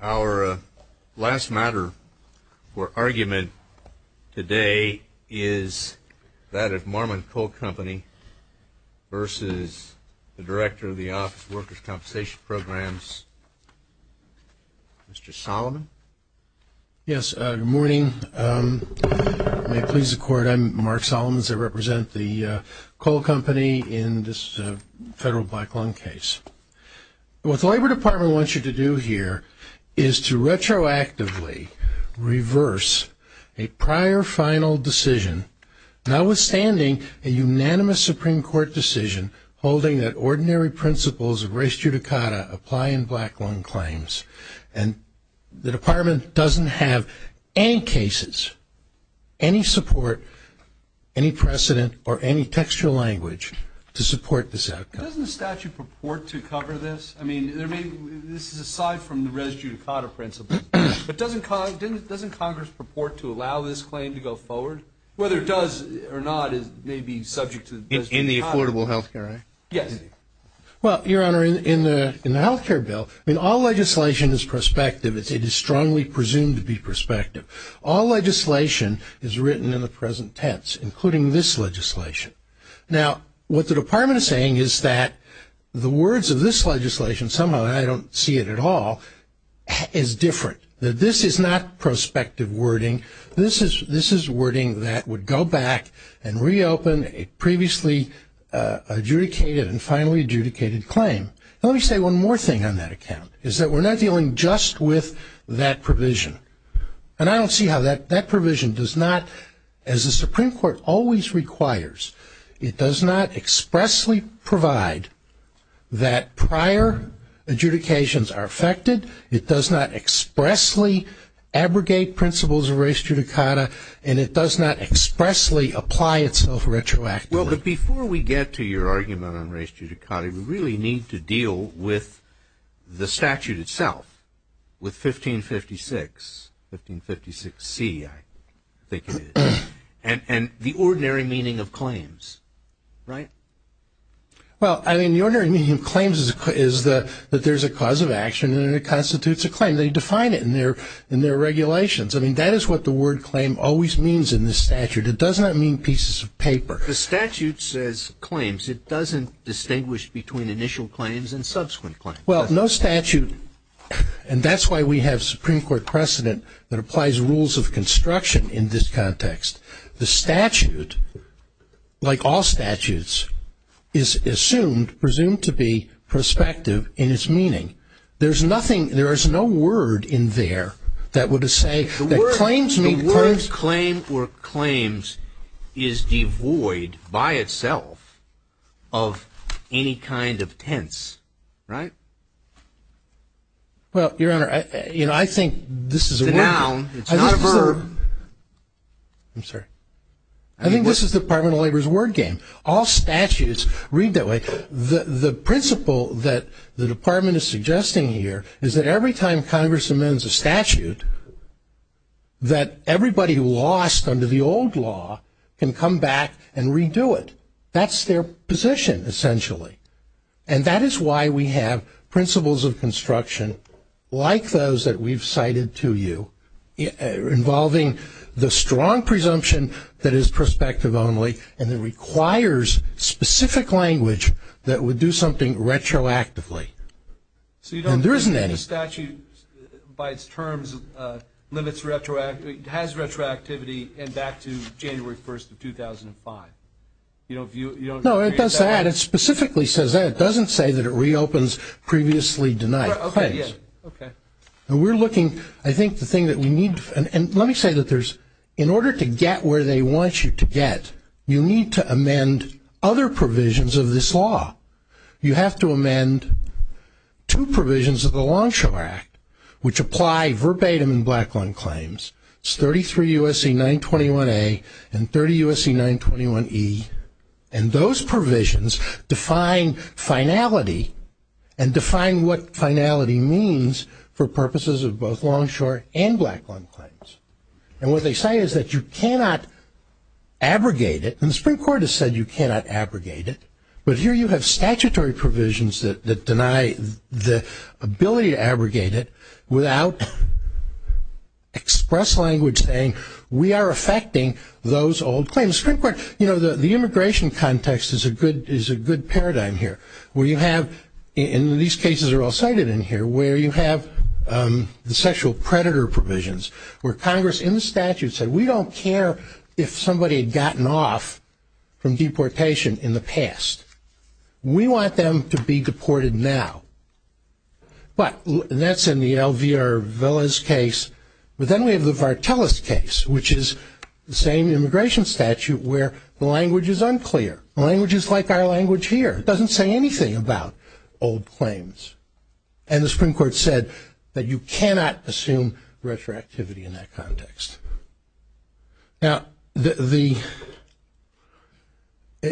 Our last matter for argument today is that of Marmon Coal Company versus the Director of the Office of Workers Compensation Programs, Mr. Solomon. Yes, good morning. May it please the Court, I'm Mark Solomons. I represent the coal company in this federal black lung case. What the Labor Department wants you to do here is to retroactively reverse a prior final decision, notwithstanding a unanimous Supreme Court decision holding that ordinary principles of res judicata apply in black lung claims. And the Department doesn't have any cases, any support, any precedent, or any textual language to support this outcome. Doesn't the statute purport to cover this? I mean, this is aside from the res judicata principle. But doesn't Congress purport to allow this claim to go forward? Whether it does or not, it may be subject to res judicata. In the Affordable Health Care Act? Yes. Well, Your Honor, in the health care bill, all legislation is prospective. It is strongly presumed to be prospective. All legislation is written in the present tense, including this legislation. Now, what the Department is saying is that the words of this legislation, somehow I don't see it at all, is different. This is not prospective wording. This is wording that would go back and reopen a previously adjudicated and finally adjudicated claim. Let me say one more thing on that account, is that we're not dealing just with that provision. And I don't see how that provision does not, as the Supreme Court always requires, it does not expressly provide that prior adjudications are affected, it does not expressly abrogate principles of res judicata, and it does not expressly apply itself retroactively. Well, but before we get to your argument on res judicata, we really need to deal with the statute itself, with 1556, 1556C, I think it is, and the ordinary meaning of claims, right? Well, I mean, the ordinary meaning of claims is that there's a cause of action and it constitutes a claim. They define it in their regulations. I mean, that is what the word claim always means in this statute. It does not mean pieces of paper. The statute says claims. It doesn't distinguish between initial claims and subsequent claims. Well, no statute, and that's why we have Supreme Court precedent that applies rules of construction in this context. The statute, like all statutes, is assumed, presumed to be prospective in its meaning. There's nothing, there is no word in there that would say that claims meet claims. No claim or claims is devoid by itself of any kind of tense, right? Well, Your Honor, you know, I think this is a word game. It's a noun. It's not a verb. I'm sorry. I think this is the Department of Labor's word game. All statutes read that way. The principle that the Department is suggesting here is that every time Congress amends a statute, that everybody lost under the old law can come back and redo it. That's their position, essentially. And that is why we have principles of construction like those that we've cited to you, involving the strong presumption that is prospective only and that requires specific language that would do something retroactively. And there isn't any. So you don't think the statute, by its terms, has retroactivity and back to January 1st of 2005? No, it does that. It specifically says that. It doesn't say that it reopens previously denied claims. And we're looking, I think the thing that we need, and let me say that there's, in order to get where they want you to get, you need to amend other provisions of this law. You have to amend two provisions of the Longshore Act, which apply verbatim in black lung claims. It's 33 U.S.C. 921A and 30 U.S.C. 921E. And those provisions define finality and define what finality means for purposes of both longshore and black lung claims. And what they say is that you cannot abrogate it. And the Supreme Court has said you cannot abrogate it. But here you have statutory provisions that deny the ability to abrogate it without express language saying we are affecting those old claims. The Supreme Court, you know, the immigration context is a good paradigm here. Where you have, and these cases are all cited in here, where you have the sexual predator provisions where Congress, in the statute, said we don't care if somebody had gotten off from deportation in the past. We want them to be deported now. But, and that's in the LVR Villas case. But then we have the Vartelis case, which is the same immigration statute where the language is unclear. The language is like our language here. It doesn't say anything about old claims. And the Supreme Court said that you cannot assume retroactivity in that context. Now, the,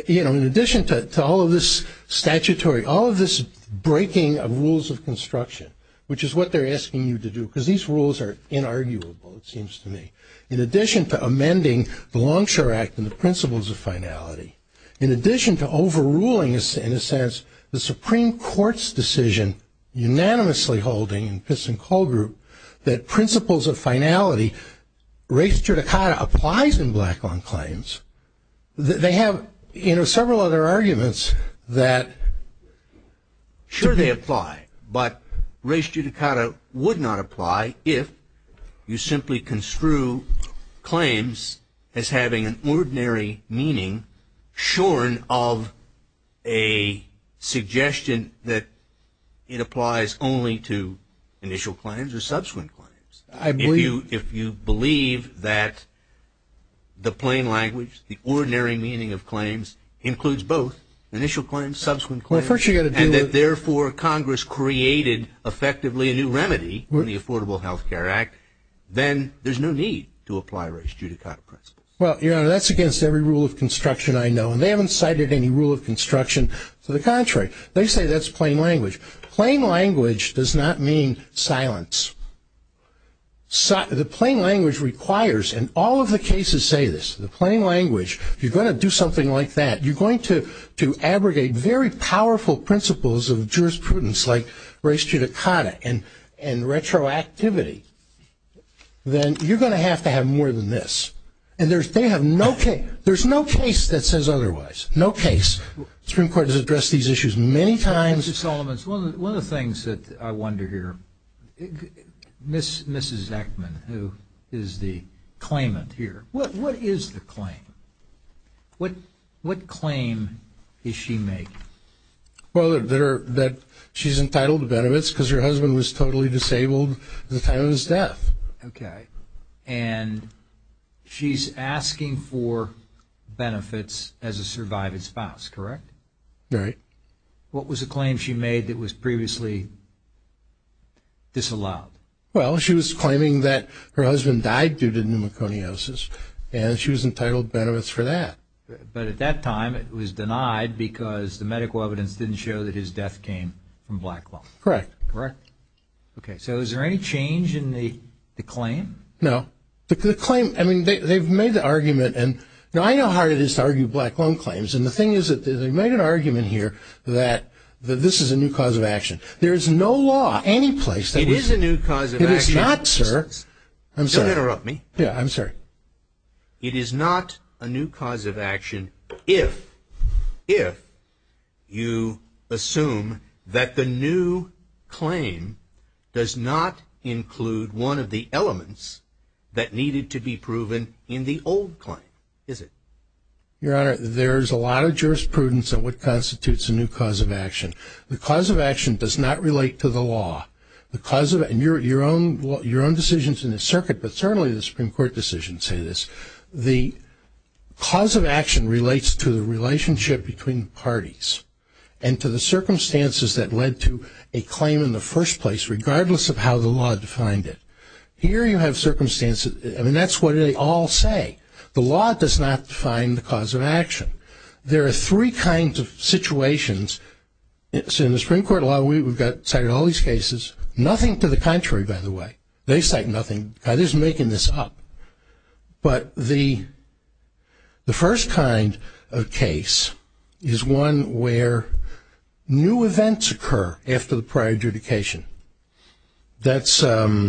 you know, in addition to all of this statutory, all of this breaking of rules of construction, which is what they're asking you to do, because these rules are inarguable, it seems to me, in addition to amending the Longshore Act and the principles of finality, in addition to overruling, in a sense, the Supreme Court's decision, unanimously holding in Pitts and Kohl Group, that principles of finality, res judicata applies in black-owned claims. They have, you know, several other arguments that. Sure, they apply. But res judicata would not apply if you simply construe claims as having an ordinary meaning shorn of a suggestion that it applies only to initial claims or subsequent claims. I believe. If you believe that the plain language, the ordinary meaning of claims, includes both initial claims, subsequent claims, and that therefore Congress created effectively a new remedy in the Affordable Health Care Act, then there's no need to apply res judicata principles. Well, Your Honor, that's against every rule of construction I know, and they haven't cited any rule of construction. To the contrary, they say that's plain language. Plain language does not mean silence. The plain language requires, and all of the cases say this, the plain language, if you're going to do something like that, you're going to abrogate very powerful principles of jurisprudence, like res judicata and retroactivity, then you're going to have to have more than this. And they have no case. There's no case that says otherwise. No case. The Supreme Court has addressed these issues many times. Mr. Solomons, one of the things that I wonder here, Mrs. Eckman, who is the claimant here, what is the claim? What claim is she making? Well, that she's entitled to benefits because her husband was totally disabled at the time of his death. Okay. And she's asking for benefits as a survived spouse, correct? Right. What was the claim she made that was previously disallowed? Well, she was claiming that her husband died due to pneumoconiosis, and she was entitled benefits for that. But at that time it was denied because the medical evidence didn't show that his death came from black lung. Correct. Correct. Okay. So is there any change in the claim? No. The claim, I mean, they've made the argument, and I know how hard it is to argue black lung claims, and the thing is that they've made an argument here that this is a new cause of action. There is no law anyplace that would say that. It is a new cause of action. It is not, sir. I'm sorry. Don't interrupt me. Yeah, I'm sorry. It is not a new cause of action if you assume that the new claim does not include one of the elements that needed to be proven in the old claim, is it? Your Honor, there is a lot of jurisprudence on what constitutes a new cause of action. The cause of action does not relate to the law. Your own decisions in the circuit, but certainly the Supreme Court decisions say this. The cause of action relates to the relationship between parties and to the circumstances that led to a claim in the first place, regardless of how the law defined it. Here you have circumstances, and that's what they all say. The law does not define the cause of action. There are three kinds of situations in the Supreme Court law. We've cited all these cases. Nothing to the contrary, by the way. They cite nothing. God is making this up. But the first kind of case is one where new events occur after the prior adjudication. That's Lawler,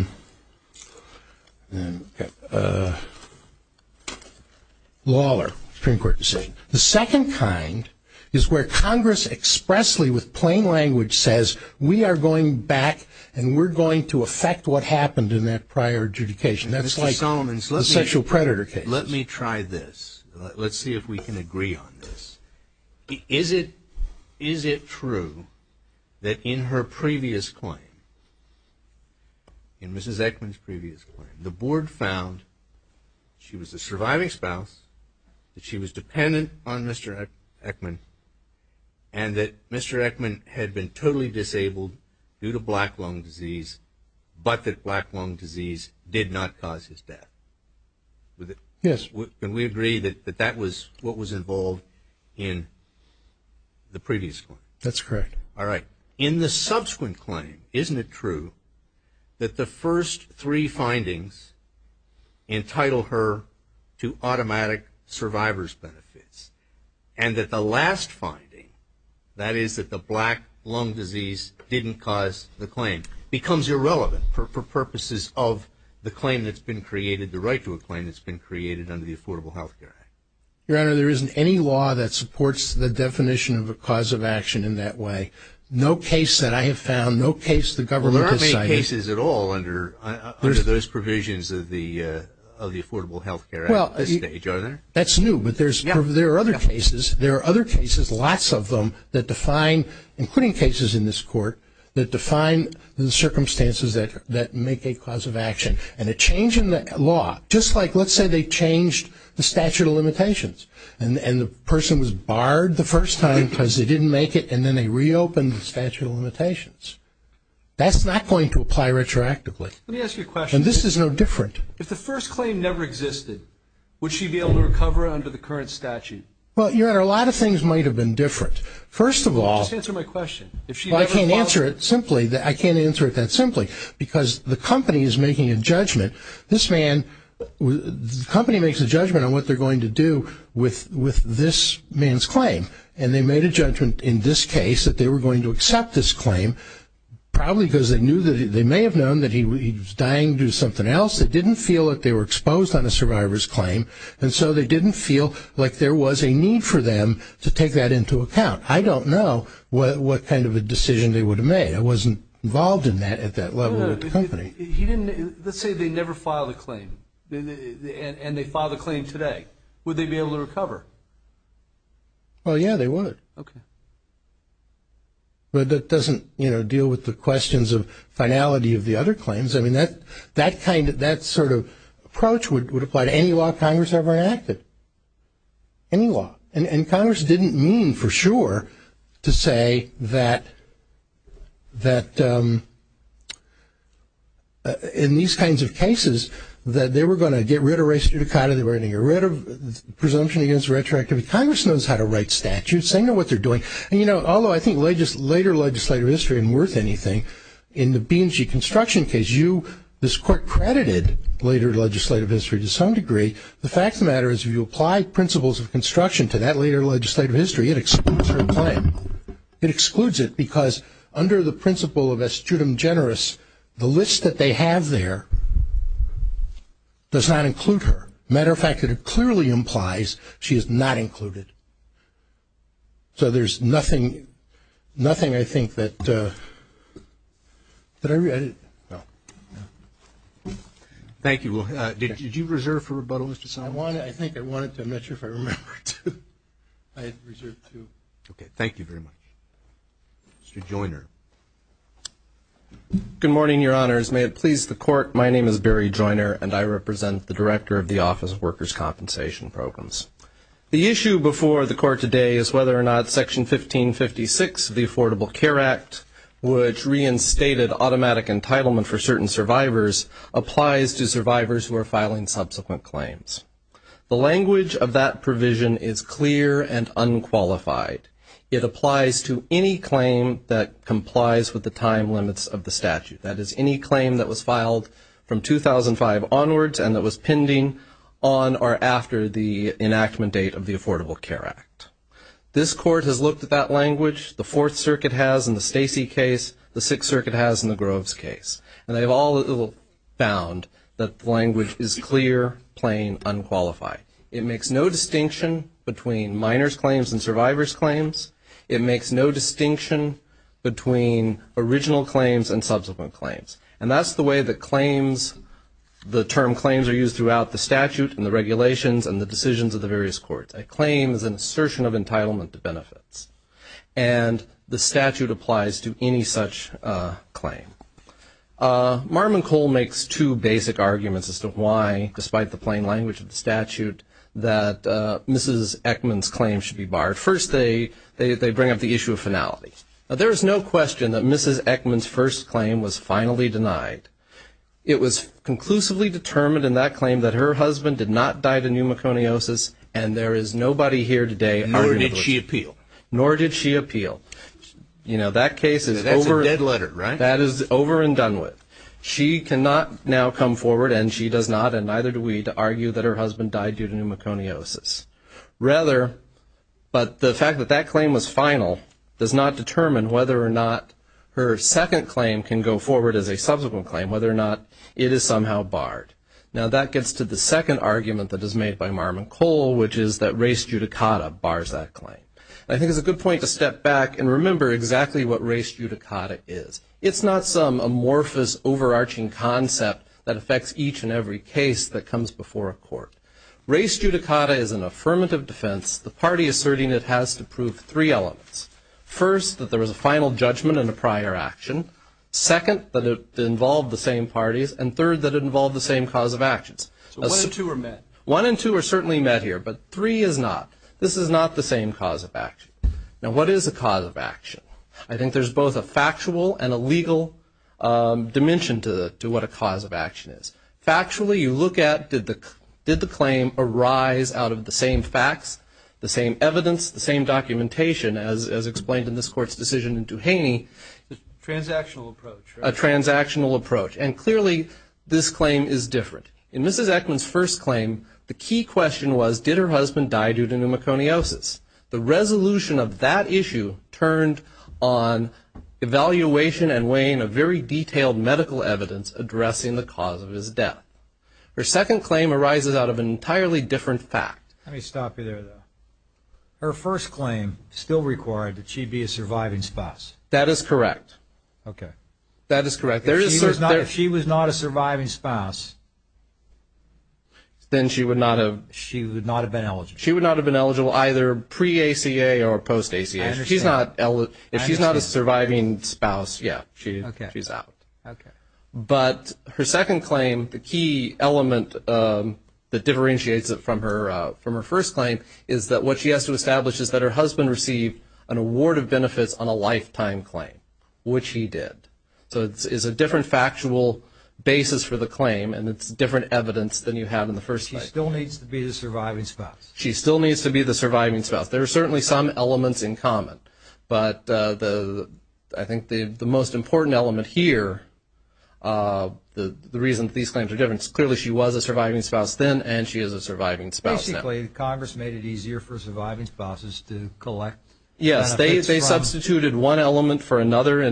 Supreme Court decision. The second kind is where Congress expressly, with plain language, says, we are going back and we're going to affect what happened in that prior adjudication. That's like the sexual predator case. Mr. Solomon, let me try this. Let's see if we can agree on this. Is it true that in her previous claim, in Mrs. Eckman's previous claim, the board found she was a surviving spouse, that she was dependent on Mr. Eckman, and that Mr. Eckman had been totally disabled due to black lung disease, but that black lung disease did not cause his death? Yes. Can we agree that that was what was involved in the previous one? That's correct. All right. In the subsequent claim, isn't it true that the first three findings entitle her to automatic survivor's benefits, and that the last finding, that is that the black lung disease didn't cause the claim, becomes irrelevant for purposes of the claim that's been created, the right to a claim that's been created under the Affordable Health Care Act? Your Honor, there isn't any law that supports the definition of a cause of action in that way. No case that I have found, no case the government has cited. There aren't any cases at all under those provisions of the Affordable Health Care Act at this stage, are there? That's new, but there are other cases. There are other cases, lots of them, that define, including cases in this court, that define the circumstances that make a cause of action. And a change in the law, just like let's say they changed the statute of limitations and the person was barred the first time because they didn't make it, and then they reopened the statute of limitations. That's not going to apply retroactively. Let me ask you a question. And this is no different. If the first claim never existed, would she be able to recover under the current statute? Well, Your Honor, a lot of things might have been different. First of all, I can't answer it simply, I can't answer it that simply, because the company is making a judgment. The company makes a judgment on what they're going to do with this man's claim, and they made a judgment in this case that they were going to accept this claim, probably because they may have known that he was dying to do something else. They didn't feel that they were exposed on a survivor's claim, and so they didn't feel like there was a need for them to take that into account. I don't know what kind of a decision they would have made. I wasn't involved in that at that level with the company. Let's say they never filed a claim, and they filed a claim today. Would they be able to recover? Well, yeah, they would. Okay. But that doesn't deal with the questions of finality of the other claims. I mean, that sort of approach would apply to any law Congress ever enacted, any law. And Congress didn't mean for sure to say that in these kinds of cases that they were going to get rid of race judicata, they were going to get rid of presumption against retroactivity. Congress knows how to write statutes. They know what they're doing. And, you know, although I think later legislative history isn't worth anything, in the B&G construction case, this court credited later legislative history to some degree. The fact of the matter is if you apply principles of construction to that later legislative history, it excludes her claim. It excludes it because under the principle of astutum generis, the list that they have there does not include her. As a matter of fact, it clearly implies she is not included. So there's nothing, I think, that I read. Thank you. Did you reserve for rebuttals to someone? I think I wanted to. I'm not sure if I remember to. I reserved to. Okay. Thank you very much. Mr. Joiner. Good morning, Your Honors. May it please the Court, my name is Barry Joiner, and I represent the Director of the Office of Workers' Compensation Programs. The issue before the Court today is whether or not Section 1556 of the Affordable Care Act, which reinstated automatic entitlement for certain survivors, applies to survivors who are filing subsequent claims. The language of that provision is clear and unqualified. It applies to any claim that complies with the time limits of the statute, that is, any claim that was filed from 2005 onwards and that was pending on or after the enactment date of the Affordable Care Act. This Court has looked at that language. The Fourth Circuit has in the Stacey case. The Sixth Circuit has in the Groves case. And they've all found that the language is clear, plain, unqualified. It makes no distinction between minors' claims and survivors' claims. It makes no distinction between original claims and subsequent claims. And that's the way that claims, the term claims are used throughout the statute and the regulations and the decisions of the various courts. A claim is an assertion of entitlement to benefits. And the statute applies to any such claim. Marmon Cole makes two basic arguments as to why, despite the plain language of the statute, that Mrs. Eckman's claim should be barred. First, they bring up the issue of finality. There is no question that Mrs. Eckman's first claim was finally denied. It was conclusively determined in that claim that her husband did not die of pneumoconiosis and there is nobody here today arguing that was true. Nor did she appeal. Nor did she appeal. You know, that case is over. That's a dead letter, right? That is over and done with. She cannot now come forward, and she does not, and neither do we, to argue that her husband died due to pneumoconiosis. Rather, but the fact that that claim was final does not determine whether or not her second claim can go forward as a subsequent claim, whether or not it is somehow barred. Now, that gets to the second argument that is made by Marmon Cole, which is that res judicata bars that claim. I think it's a good point to step back and remember exactly what res judicata is. It's not some amorphous, overarching concept that affects each and every case that comes before a court. Res judicata is an affirmative defense, the party asserting it has to prove three elements. First, that there was a final judgment and a prior action. Second, that it involved the same parties. And third, that it involved the same cause of actions. So one and two are met. One and two are certainly met here, but three is not. This is not the same cause of action. Now, what is a cause of action? I think there's both a factual and a legal dimension to what a cause of action is. Factually, you look at did the claim arise out of the same facts, the same evidence, the same documentation, as explained in this Court's decision in Duhaney. Transactional approach. A transactional approach. And clearly, this claim is different. In Mrs. Eckman's first claim, the key question was did her husband die due to pneumoconiosis? The resolution of that issue turned on evaluation and weighing of very detailed medical evidence addressing the cause of his death. Her second claim arises out of an entirely different fact. Let me stop you there, though. Her first claim still required that she be a surviving spouse. That is correct. Okay. That is correct. If she was not a surviving spouse, then she would not have been eligible. She would not have been eligible either pre-ACA or post-ACA. I understand. If she's not a surviving spouse, yeah, she's out. Okay. But her second claim, the key element that differentiates it from her first claim is that what she has to establish is that her husband received an award of benefits on a lifetime claim, which he did. So it's a different factual basis for the claim, and it's different evidence than you have in the first claim. She still needs to be the surviving spouse. She still needs to be the surviving spouse. There are certainly some elements in common. But I think the most important element here, the reason these claims are different, is clearly she was a surviving spouse then and she is a surviving spouse now. Basically, Congress made it easier for surviving spouses to collect benefits from. They did one element for another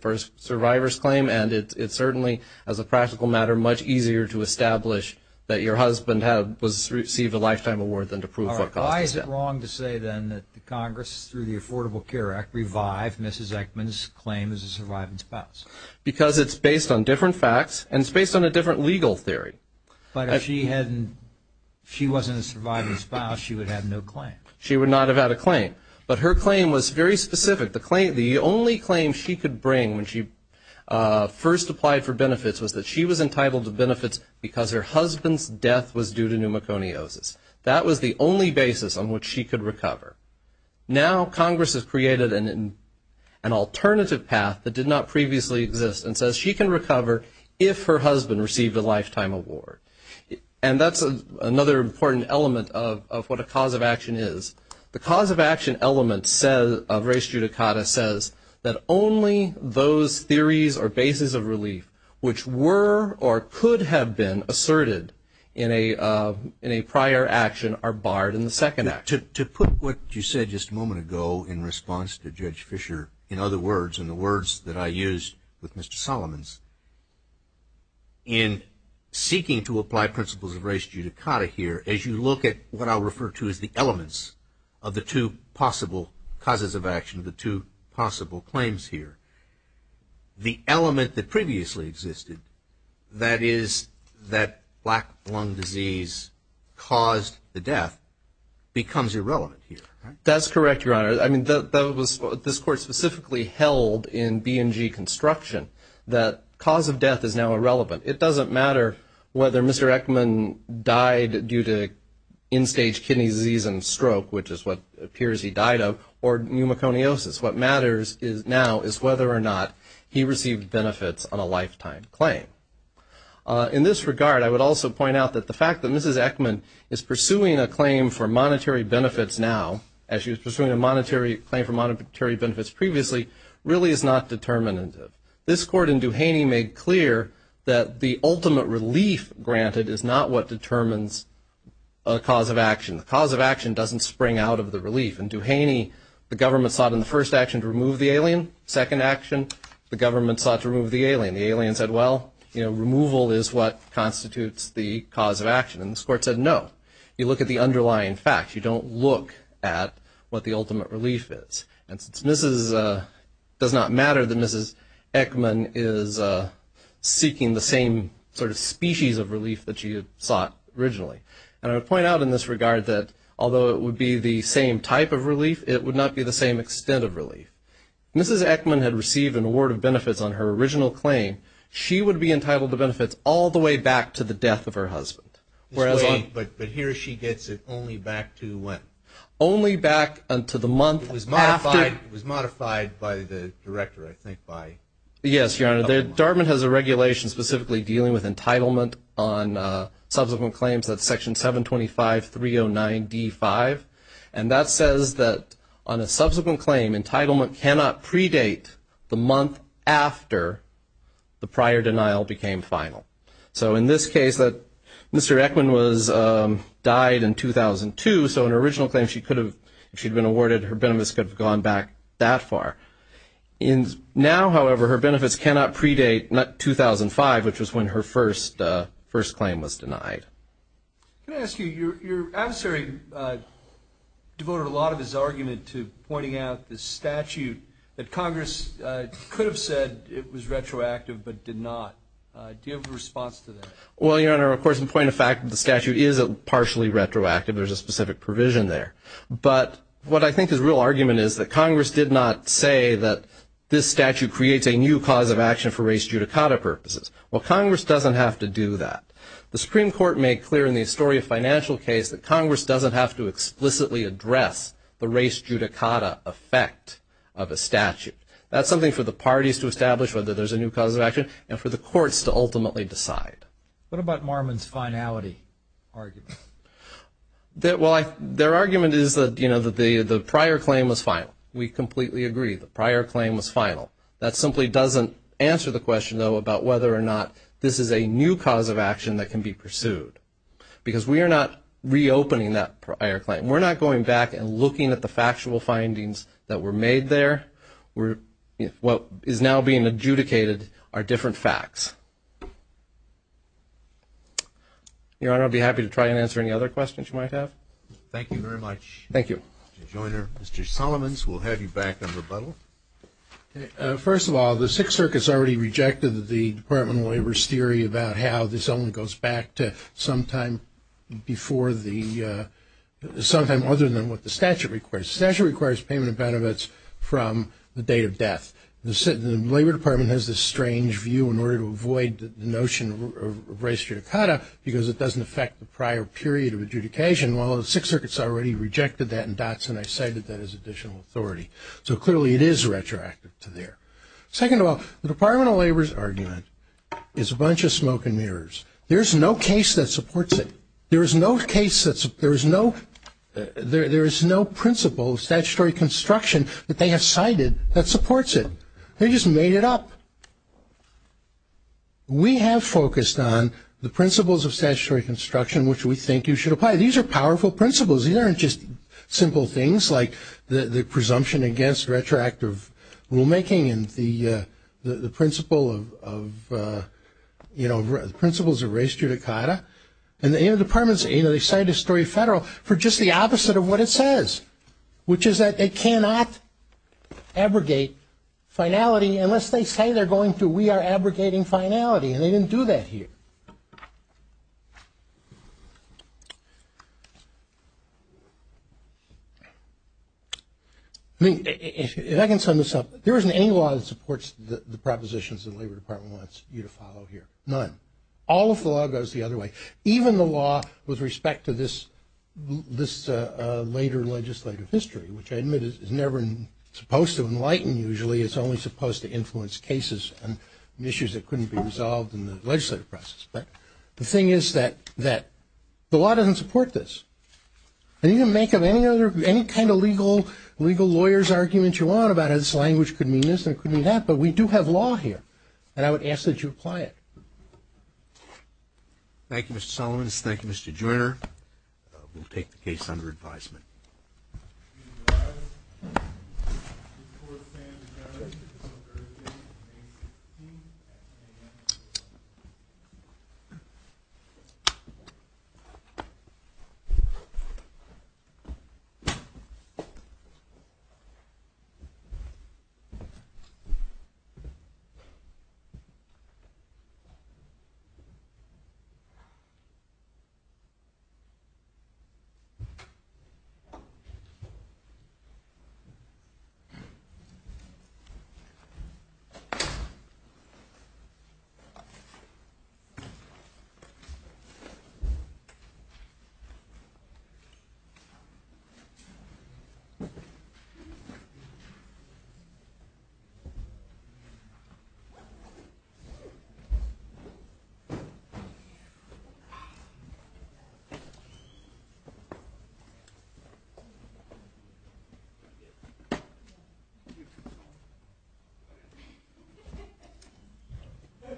for a survivor's claim, and it certainly, as a practical matter, much easier to establish that your husband received a lifetime award than to prove what caused it. All right. Why is it wrong to say then that Congress, through the Affordable Care Act, revived Mrs. Eckman's claim as a surviving spouse? Because it's based on different facts, and it's based on a different legal theory. But if she wasn't a surviving spouse, she would have no claim. She would not have had a claim. But her claim was very specific. The only claim she could bring when she first applied for benefits was that she was entitled to benefits because her husband's death was due to pneumoconiosis. That was the only basis on which she could recover. Now Congress has created an alternative path that did not previously exist and says she can recover if her husband received a lifetime award. And that's another important element of what a cause of action is. The cause of action element of res judicata says that only those theories or bases of relief which were or could have been asserted in a prior action are barred in the second act. To put what you said just a moment ago in response to Judge Fisher, in other words, in the words that I used with Mr. Solomons, in seeking to apply principles of res judicata here, as you look at what I'll refer to as the elements of the two possible causes of action, the two possible claims here, the element that previously existed, that is that black lung disease caused the death, becomes irrelevant here. That's correct, Your Honor. I mean, this Court specifically held in B&G Construction that cause of death is now irrelevant. It doesn't matter whether Mr. Eckman died due to end-stage kidney disease and stroke, which is what appears he died of, or pneumoconiosis. What matters now is whether or not he received benefits on a lifetime claim. In this regard, I would also point out that the fact that Mrs. Eckman is pursuing a claim for monetary benefits now, as she was pursuing a claim for monetary benefits previously, really is not determinative. This Court in Duhaney made clear that the ultimate relief granted is not what determines a cause of action. The cause of action doesn't spring out of the relief. In Duhaney, the government sought in the first action to remove the alien. Second action, the government sought to remove the alien. The alien said, well, you know, removal is what constitutes the cause of action. And this Court said no. You look at the underlying facts. You don't look at what the ultimate relief is. And since Mrs. does not matter, then Mrs. Eckman is seeking the same sort of species of relief that she had sought originally. And I would point out in this regard that although it would be the same type of relief, it would not be the same extent of relief. Mrs. Eckman had received an award of benefits on her original claim. She would be entitled to benefits all the way back to the death of her husband. But here she gets it only back to when? Only back to the month after. It was modified by the director, I think, by. Yes, Your Honor. Dartmouth has a regulation specifically dealing with entitlement on subsequent claims. That's Section 725.309.D5. And that says that on a subsequent claim, entitlement cannot predate the month after the prior denial became final. So in this case, Mr. Eckman died in 2002. So in her original claim, if she had been awarded, her benefits could have gone back that far. Now, however, her benefits cannot predate 2005, which was when her first claim was denied. Can I ask you, your adversary devoted a lot of his argument to pointing out the statute that Congress could have said it was retroactive but did not. Do you have a response to that? Well, Your Honor, of course, in point of fact, the statute is partially retroactive. There's a specific provision there. But what I think his real argument is that Congress did not say that this statute creates a new cause of action for race judicata purposes. Well, Congress doesn't have to do that. The Supreme Court made clear in the Astoria financial case that Congress doesn't have to explicitly address the race judicata effect of a statute. That's something for the parties to establish whether there's a new cause of action and for the courts to ultimately decide. What about Marmon's finality argument? Well, their argument is that the prior claim was final. We completely agree the prior claim was final. That simply doesn't answer the question, though, about whether or not this is a new cause of action that can be pursued because we are not reopening that prior claim. We're not going back and looking at the factual findings that were made there. What is now being adjudicated are different facts. Your Honor, I'll be happy to try and answer any other questions you might have. Thank you very much. Thank you. Mr. Joyner. Mr. Solomons, we'll have you back in rebuttal. First of all, the Sixth Circuit has already rejected the Department of Labor's theory about how this only goes back to sometime before the ‑‑ sometime other than what the statute requires. The statute requires payment of benefits from the date of death. The Labor Department has this strange view in order to avoid the notion of res judicata because it doesn't affect the prior period of adjudication. Well, the Sixth Circuit's already rejected that in dots, and I cited that as additional authority. So clearly it is retroactive to there. Second of all, the Department of Labor's argument is a bunch of smoke and mirrors. There's no case that supports it. There is no principle of statutory construction that they have cited that supports it. They just made it up. We have focused on the principles of statutory construction which we think you should apply. These are powerful principles. These aren't just simple things like the presumption against retroactive rulemaking and the principles of res judicata. And the Labor Department, you know, they cite a story federal for just the opposite of what it says, which is that they cannot abrogate finality unless they say they're going to. We are abrogating finality, and they didn't do that here. I mean, if I can sum this up, there isn't any law that supports the propositions the Labor Department wants you to follow here. None. All of the law goes the other way. Even the law with respect to this later legislative history, which I admit is never supposed to enlighten usually. It's only supposed to influence cases and issues that couldn't be resolved in the legislative process. But the thing is that the law doesn't support this. And you can make up any kind of legal lawyer's argument you want about how this language could mean this and it could mean that, but we do have law here, and I would ask that you apply it. Thank you, Mr. Sullivans. Thank you, Mr. Joyner. We'll take the case under advisement.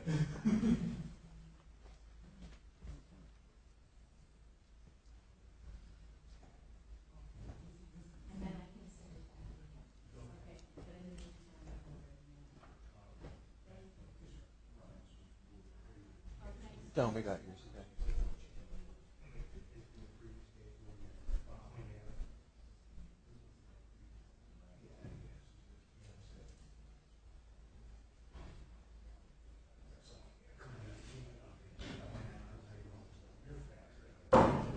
Thank you. Thank you. Thank you. No, we got yours.